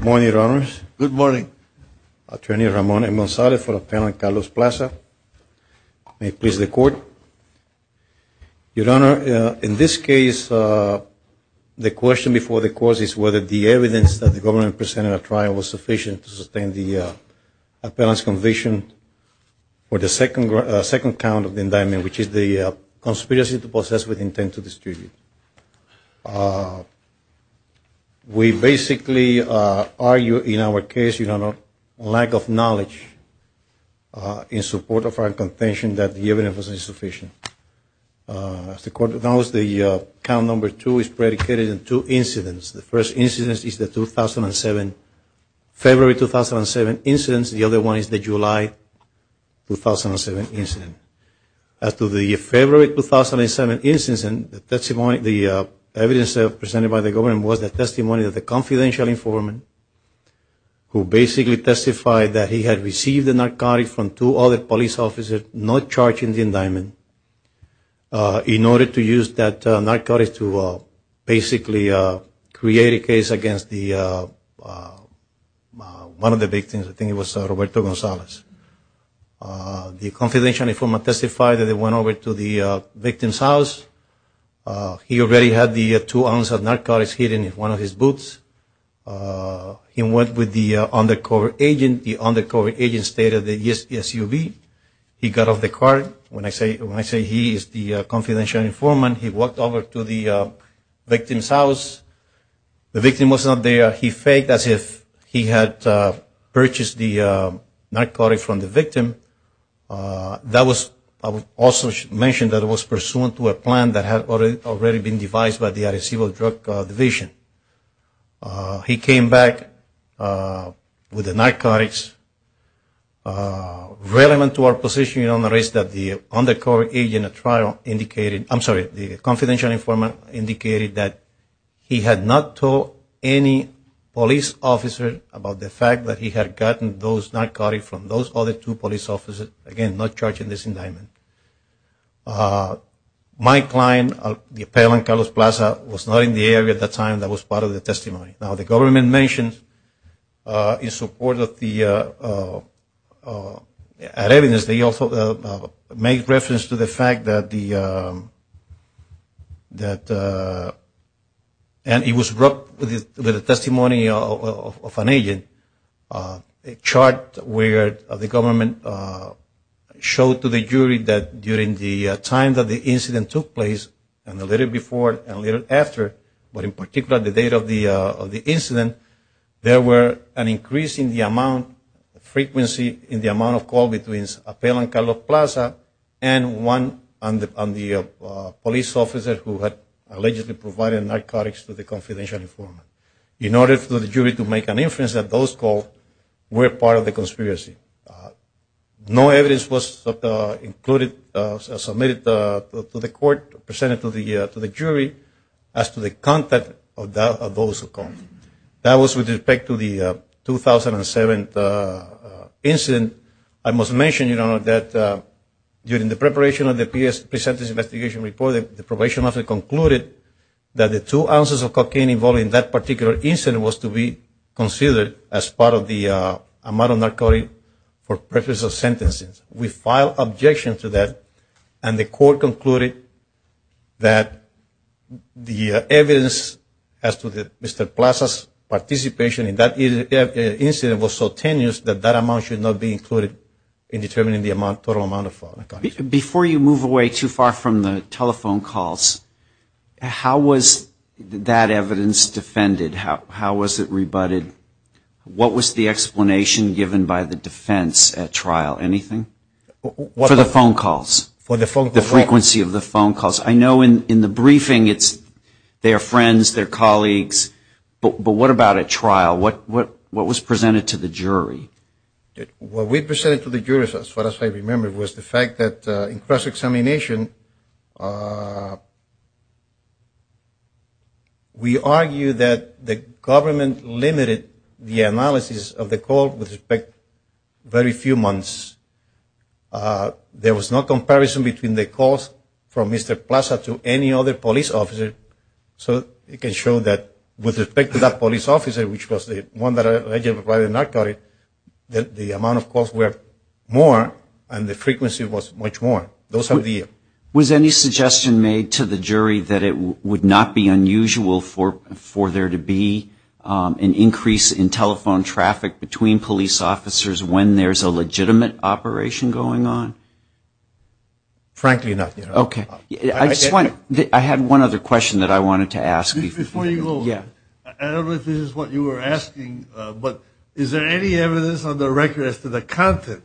Good morning, Your Honors. Good morning. Attorney Ramon E. Monsalve for Appellant Carlos Plaza. May it please the Court. Your Honor, in this case, the question before the Court is whether the evidence that the government presented at trial was sufficient to sustain the appellant's conviction for the second count of the indictment, which is the conspiracy to possess with intent to distribute. We basically argue in our case, Your Honor, a lack of knowledge in support of our contention that the evidence was insufficient. As the Court knows, the count number two is the 2007, February 2007 incident. The other one is the July 2007 incident. As to the February 2007 incident, the testimony, the evidence presented by the government was the testimony of the confidential informant who basically testified that he had received the narcotics from two other police officers not charged in the indictment in order to use that narcotics to basically create a case against one of the victims. I think it was Roberto Gonzalez. The confidential informant testified that he went over to the victim's house. He already had the two ounces of narcotics hidden in one of his boots. He went with the undercover agent. The undercover agent stated that, yes, it's you. He got off the car. When I say he is the confidential informant, he walked over to the victim's house. The victim was not there. He faked as if he had purchased the narcotics from the victim. That was also mentioned that it was pursuant to a plan that had already been devised by the Addis Ababa Drug Division. He came back with the narcotics relevant to our position in our case that the confidential informant indicated that he had not told any police officer about the fact that he had gotten those narcotics from those other two police officers, again, not charged in this indictment. My client, the appellant Carlos Plaza, was not in the area at the time that was part of the testimony. Now, the government mentions in support of the evidence, they also make reference to the fact that the testimony of an agent, a chart where the government showed to the jury that during the time that the incident took place and a little before and a little after, but in particular the date of the incident, there were an increase in the amount, frequency in the amount of call between the appellant Carlos Plaza and one of the police officers who had allegedly provided narcotics to the confidential informant. In order for the jury to make an inference that those calls were part of the conspiracy. No evidence was submitted to the court, presented to the jury, as to the content of those calls. That was with respect to the 2007 incident. I must mention that during the preparation of the pre-sentence investigation report, the probation officer concluded that the two ounces of cocaine involved in that particular incident was to be considered as part of the amount of narcotic for purpose of sentencing. We filed objections to that and the court concluded that the evidence as to Mr. Plaza's participation in that incident was so tenuous that that amount should not be included in determining the total amount of narcotics. Before you move away too far from the telephone calls, how was that evidence defended? How was it rebutted? What was the explanation given by the defense at trial? Anything? For the phone calls. The frequency of the phone calls. I know in the briefing it's their friends, their colleagues, but what about at trial? What was presented to the jury? What we presented to the jury, as far as I remember, was the fact that in cross-examination, we argued that the government limited the analysis of the call with respect to the police officer for a very few months. There was no comparison between the calls from Mr. Plaza to any other police officer, so it can show that with respect to that police officer, which was the one that allegedly provided narcotic, that the amount of calls were more and the frequency was much more. Those are the... Was any suggestion made to the jury that it would not be unusual for there to be an increase in telephone traffic between police officers when there's a legitimate operation going on? Frankly not. Okay. I had one other question that I wanted to ask you. Before you go, I don't know if this is what you were asking, but is there any evidence on the record as to the content?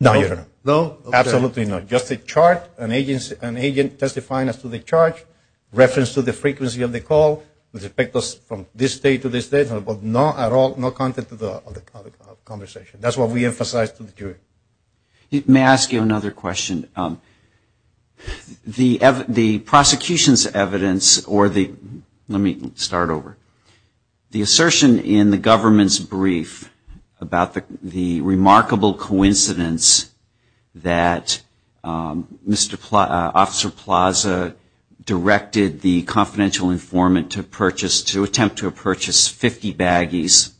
No. No? Absolutely not. Just a chart, an agent testifying as to the chart, reference to the frequency of the call with respect from this day to this day, but not at all, no content of the conversation. That's what we emphasized to the jury. May I ask you another question? The prosecution's evidence or the... Let me start over. The assertion in the government's brief about the remarkable coincidence that Officer Plaza directed the confidential informant to purchase, to attempt to purchase 50 baggies,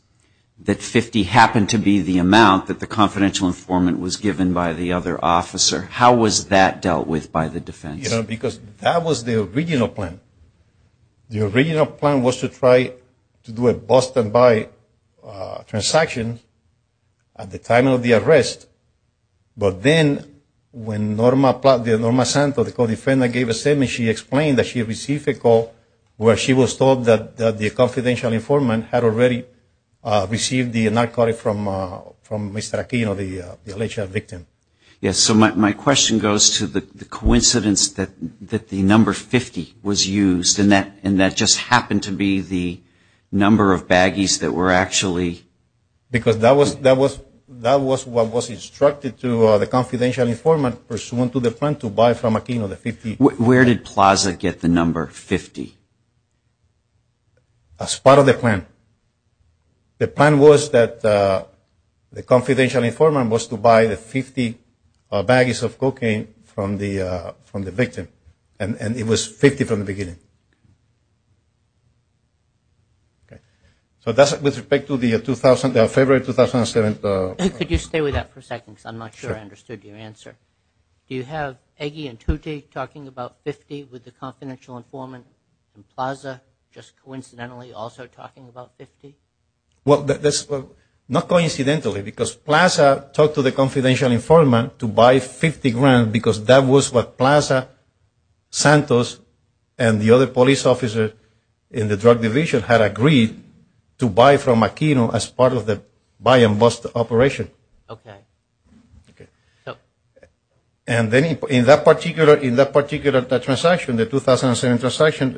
that 50 happened to be the amount that the confidential informant was given by the other officer. How was that dealt with by the defense? You know, because that was the original plan. The original plan was to try to do a bust and buy transaction at the time of the arrest, but then when Norma Santos, the co-defendant, gave a statement, she explained that she received a call where she was told that the confidential informant had already received the narcotic from Mr. Aquino, the alleged victim. Yes, so my question goes to the coincidence that the number 50 was used and that just happened to be the number of baggies that were actually... Because that was what was instructed to the confidential informant pursuant to the plan to buy from Aquino, the 50... Where did Plaza get the number 50? As part of the plan. The plan was that the confidential informant was to buy the 50 baggies of cocaine from the victim, and it was 50 from the beginning. Okay, so that's with respect to the February 2007... Could you stay with that for a second, because I'm not sure I understood your answer. Do you have Eggie and Tutti talking about 50 with the confidential informant and Plaza just coincidentally also talking about 50? Well, not coincidentally, because Plaza talked to the confidential informant to buy 50 grams and because that was what Plaza, Santos, and the other police officers in the drug division had agreed to buy from Aquino as part of the buy and bust operation. Okay. And then in that particular transaction, the 2007 transaction,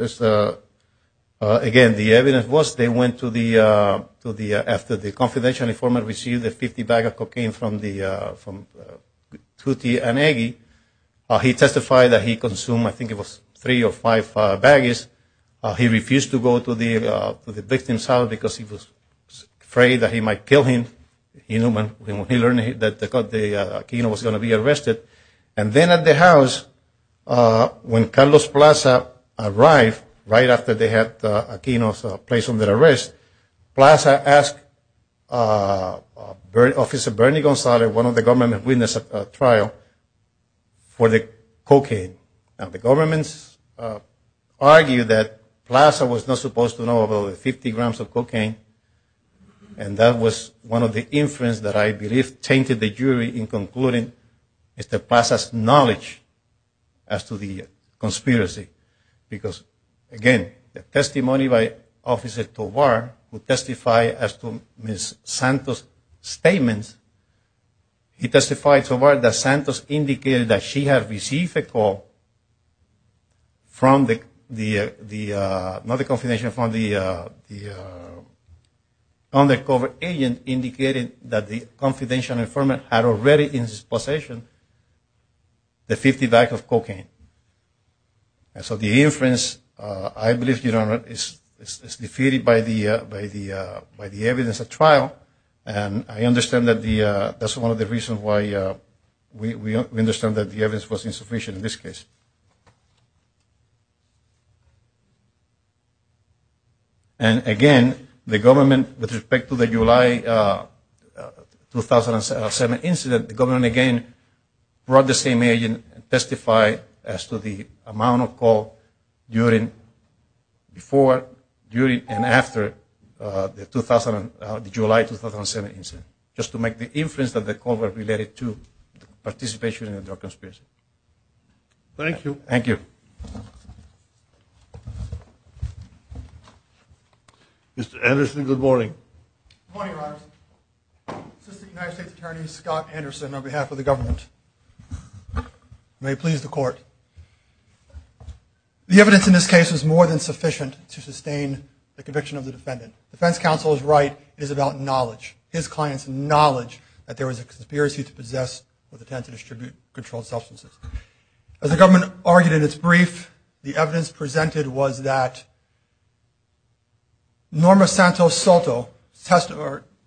again, the evidence was they went to the... The confidential informant received the 50 bag of cocaine from Tutti and Eggie. He testified that he consumed, I think it was, three or five baggies. He refused to go to the victim's house because he was afraid that he might kill him. He learned that Aquino was going to be arrested. And then at the house, when Carlos Plaza arrived, right after they had Aquino placed under arrest, Plaza asked Officer Bernie Gonzalez, one of the government witnesses at trial, for the cocaine. Now, the government argued that Plaza was not supposed to know about the 50 grams of cocaine and that was one of the inference that I believe tainted the jury in concluding Mr. Plaza's knowledge as to the conspiracy. Because, again, the testimony by Officer Tovar, who testified as to Ms. Santos' statements, he testified, Tovar, that Santos indicated that she had received a call from the... Not the confidential, from the undercover agent, indicating that the confidential informant had already in his possession the 50 bag of cocaine. And so the inference, I believe, Your Honor, is defeated by the evidence at trial. And I understand that that's one of the reasons why we understand that the evidence was insufficient in this case. And, again, the government, with respect to the July 2007 incident, the government again brought the same agent and testified as to the amount of call during, before, during, and after the July 2007 incident, just to make the inference that the call was related to participation in the drug conspiracy. Thank you. Thank you. Mr. Anderson, good morning. Good morning, Your Honor. Assistant United States Attorney Scott Anderson on behalf of the government. May it please the court. The evidence in this case is more than sufficient to sustain the conviction of the defendant. Defense counsel is right. It is about knowledge, his client's knowledge, that there was a conspiracy to possess with intent to distribute controlled substances. As the government argued in its brief, the evidence presented was that Norma Santos Soto's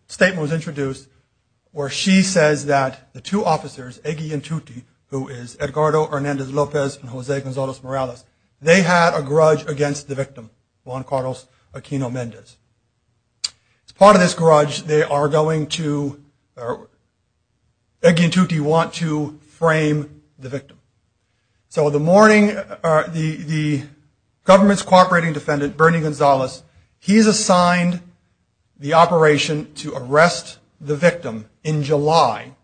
statement was introduced where she says that the two officers, Egi and Tuti, who is Edgardo Hernandez Lopez and Jose Gonzalez Morales, they had a grudge against the victim, Juan Carlos Aquino Mendez. As part of this grudge, they are going to, Egi and Tuti want to frame the victim. So the morning, the government's cooperating defendant, Bernie Gonzalez, he's assigned the operation to arrest the victim in July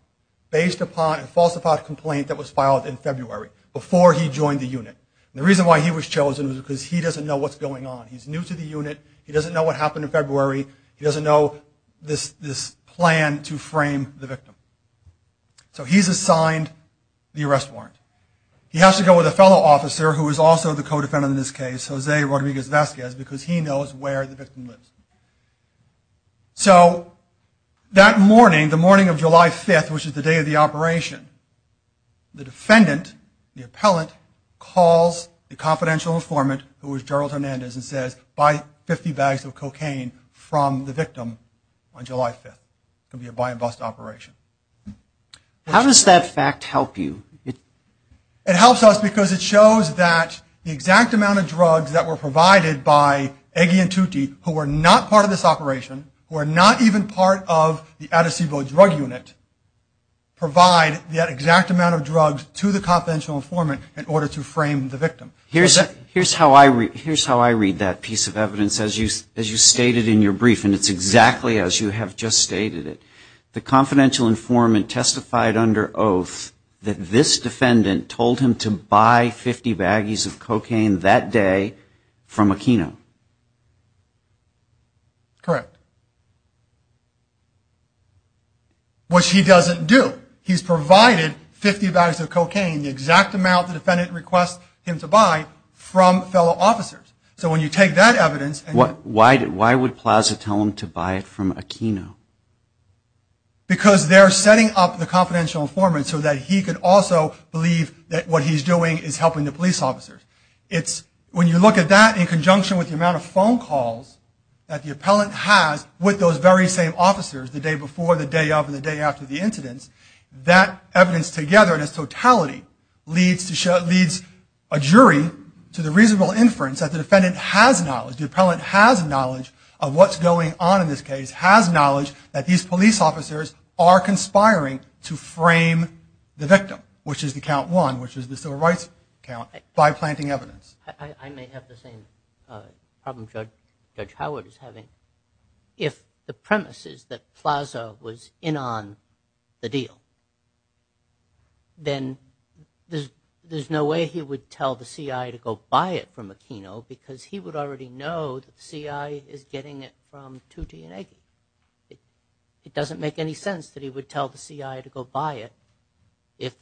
based upon a falsified complaint that was filed in February before he joined the unit. And the reason why he was chosen was because he doesn't know what's going on. He's new to the unit. He doesn't know what happened in February. He doesn't know this plan to frame the victim. So he's assigned the arrest warrant. He has to go with a fellow officer who is also the co-defendant in this case, Jose Rodriguez Vasquez, because he knows where the victim lives. So that morning, the morning of July 5th, which is the day of the operation, the defendant, the appellant, calls the confidential informant, who is Gerald Hernandez, and says, buy 50 bags of cocaine from the victim on July 5th. It's going to be a buy-and-bust operation. How does that fact help you? It helps us because it shows that the exact amount of drugs that were provided by Egi and Tuti, who were not part of this operation, who are not even part of the Addis Ababa drug unit, provide that exact amount of drugs to the confidential informant in order to frame the victim. Here's how I read that piece of evidence, as you stated in your brief, and it's exactly as you have just stated it. The confidential informant testified under oath that this defendant told him to buy 50 baggies of cocaine that day from Aquino. Correct. Which he doesn't do. He's provided 50 bags of cocaine, the exact amount the defendant requests him to buy, from fellow officers. So when you take that evidence and you... Why would Plaza tell him to buy it from Aquino? Because they're setting up the confidential informant so that he could also believe that what he's doing is helping the police officers. It's when you look at that in conjunction with the amount of phone calls that the appellant has with those very same officers the day before, the day of, and the day after the incidents, that evidence together in its totality leads a jury to the reasonable inference that the defendant has knowledge, the appellant has knowledge of what's going on in this case, has knowledge that these police officers are conspiring to frame the victim, which is the count one, which is the civil rights count, by planting evidence. I may have the same problem Judge Howard is having. If the premise is that Plaza was in on the deal, then there's no way he would tell the C.I. to go buy it from Aquino because he would already know that the C.I. is getting it from Tutti and Eggie. It doesn't make any sense that he would tell the C.I. to go buy it if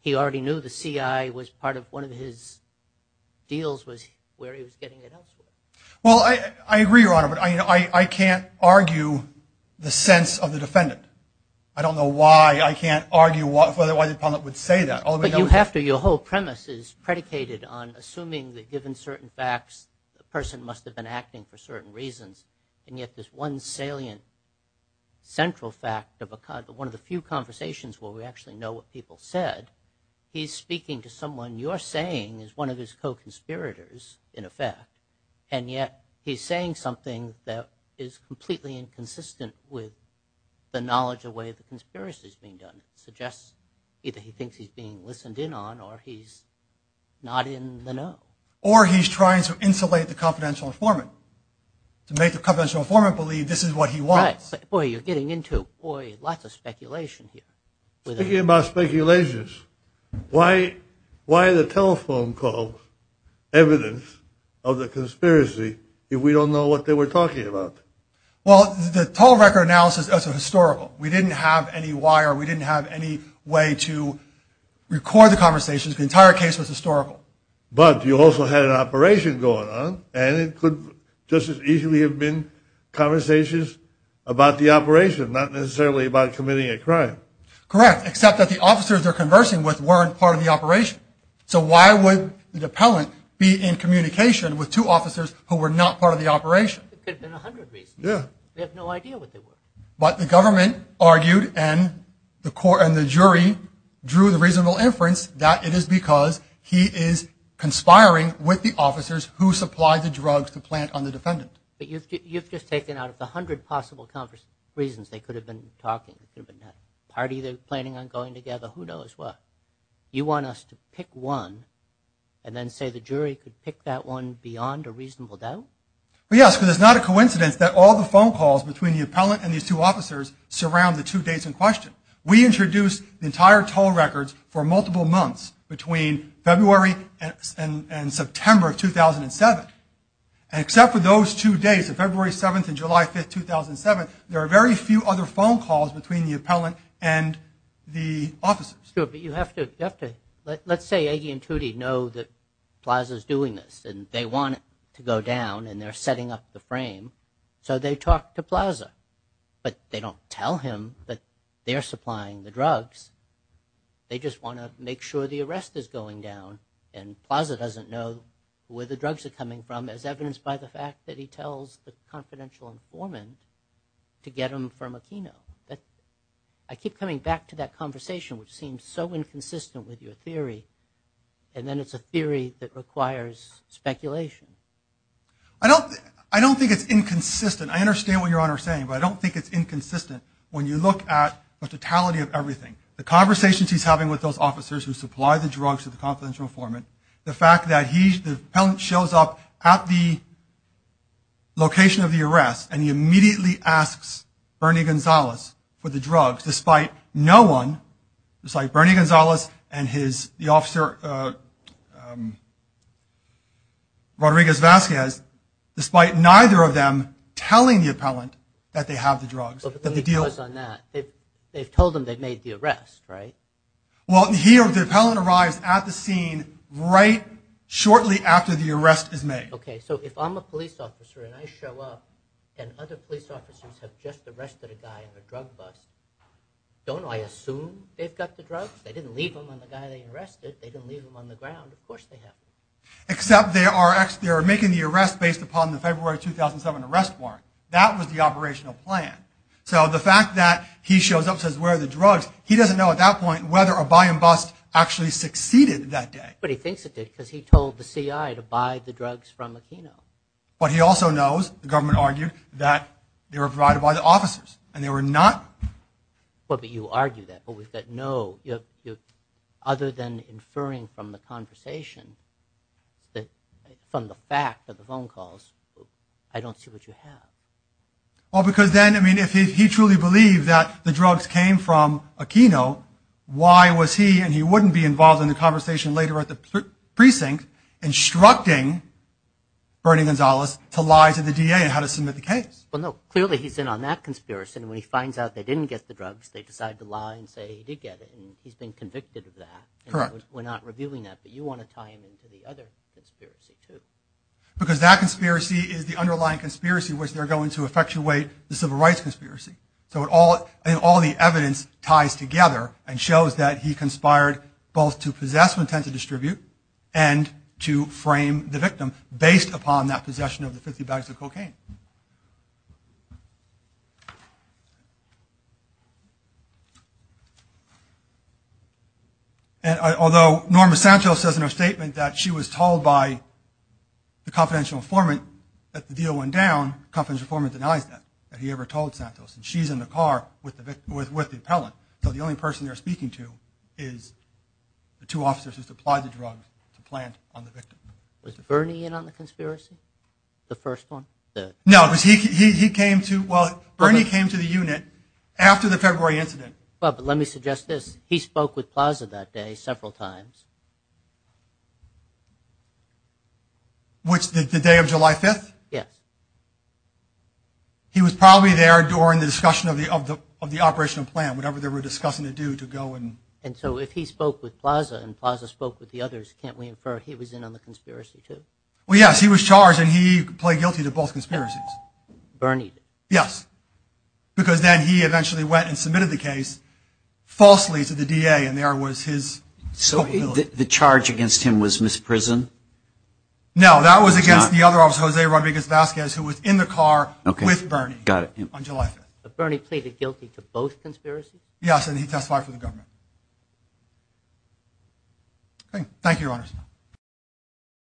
he already knew the C.I. was part of one of his deals was where he was getting it elsewhere. Well, I agree, Your Honor, but I can't argue the sense of the defendant. I don't know why I can't argue why the appellant would say that. But you have to. Your whole premise is predicated on assuming that given certain facts the person must have been acting for certain reasons, and yet this one salient central fact of one of the few conversations where we actually know what people said, he's speaking to someone you're saying is one of his co-conspirators, in effect, and yet he's saying something that is completely inconsistent with the knowledge of the way the conspiracy is being done. It suggests either he thinks he's being listened in on or he's not in the know. Or he's trying to insulate the confidential informant to make the confidential informant believe this is what he wants. Right. Boy, you're getting into lots of speculation here. Speaking about speculations, why are the telephone calls evidence of the conspiracy if we don't know what they were talking about? Well, the total record analysis is historical. We didn't have any wire. We didn't have any way to record the conversations. The entire case was historical. But you also had an operation going on, and it could just as easily have been conversations about the operation, not necessarily about committing a crime. Correct, except that the officers they're conversing with weren't part of the operation. So why would the appellant be in communication with two officers who were not part of the operation? There could have been a hundred reasons. Yeah. They have no idea what they were. But the government argued and the jury drew the reasonable inference that it is because he is conspiring with the officers who supplied the drugs to plant on the defendant. But you've just taken out of the hundred possible reasons they could have been talking. It could have been a party they're planning on going together. Who knows what. You want us to pick one and then say the jury could pick that one beyond a reasonable doubt? Yes, because it's not a coincidence that all the phone calls between the appellant and these two officers surround the two dates in question. We introduced the entire toll records for multiple months between February and September of 2007. And except for those two days of February 7th and July 5th, 2007, there are very few other phone calls between the appellant and the officers. Let's say Aggie and Tootie know that Plaza is doing this and they want it to go down and they're setting up the frame, so they talk to Plaza. But they don't tell him that they're supplying the drugs. They just want to make sure the arrest is going down and Plaza doesn't know where the drugs are coming from as evidenced by the fact that he tells the confidential informant to get them from Aquino. I keep coming back to that conversation, which seems so inconsistent with your theory, and then it's a theory that requires speculation. I don't think it's inconsistent. I understand what you're saying, but I don't think it's inconsistent when you look at the totality of everything. The conversations he's having with those officers who supply the drugs to the confidential informant, the fact that the appellant shows up at the location of the arrest and he immediately asks Bernie Gonzalez for the drugs, despite no one, just like Bernie Gonzalez and the officer Rodriguez-Vazquez, despite neither of them telling the appellant that they have the drugs. But the lead goes on that. They've told him they've made the arrest, right? Well, the appellant arrives at the scene right shortly after the arrest is made. Okay, so if I'm a police officer and I show up and other police officers have just arrested a guy on a drug bust, don't I assume they've got the drugs? They didn't leave them on the guy they arrested. They didn't leave them on the ground. Of course they have them. Except they are making the arrest based upon the February 2007 arrest warrant. That was the operational plan. So the fact that he shows up and says, where are the drugs, he doesn't know at that point whether a buy and bust actually succeeded that day. But he thinks it did because he told the CI to buy the drugs from Aquino. But he also knows, the government argued, that they were provided by the officers and they were not... But you argue that, but we've got no... Other than inferring from the conversation, from the fact of the phone calls, I don't see what you have. Well, because then, I mean, if he truly believed that the drugs came from Aquino, why was he, and he wouldn't be involved in the conversation later at the precinct, instructing Bernie Gonzalez to lie to the DA on how to submit the case? Well, no, clearly he's in on that conspiracy, and when he finds out they didn't get the drugs, they decide to lie and say he did get it, and he's been convicted of that. Correct. We're not revealing that, but you want to tie him into the other conspiracy, too. Because that conspiracy is the underlying conspiracy, which they're going to effectuate the civil rights conspiracy. So all the evidence ties together and shows that he conspired both to possess, with intent to distribute, and to frame the victim, based upon that possession of the 50 bags of cocaine. And although Norma Santos says in her statement that she was told by the confidential informant that the deal went down, the confidential informant denies that, that he ever told Santos, and she's in the car with the appellant. So the only person they're speaking to is the two officers who supplied the drugs to plant on the victim. Was Bernie in on the conspiracy? The first one? No, because he came to, well, Bernie came to the unit after the February incident. Well, but let me suggest this. He spoke with Plaza that day several times. Which, the day of July 5th? Yes. He was probably there during the discussion of the operational plan, whatever they were discussing to do to go and. And so if he spoke with Plaza and Plaza spoke with the others, can't we infer he was in on the conspiracy, too? Well, yes, he was charged and he played guilty to both conspiracies. Bernie? Yes. Because then he eventually went and submitted the case falsely to the DA and there was his. So the charge against him was misprison? No, that was against the other officer, Jose Rodriguez Vasquez, who was in the car with Bernie. Got it. On July 5th. But Bernie pleaded guilty to both conspiracies? Yes. And he testified for the government. Okay. Thank you, Your Honors.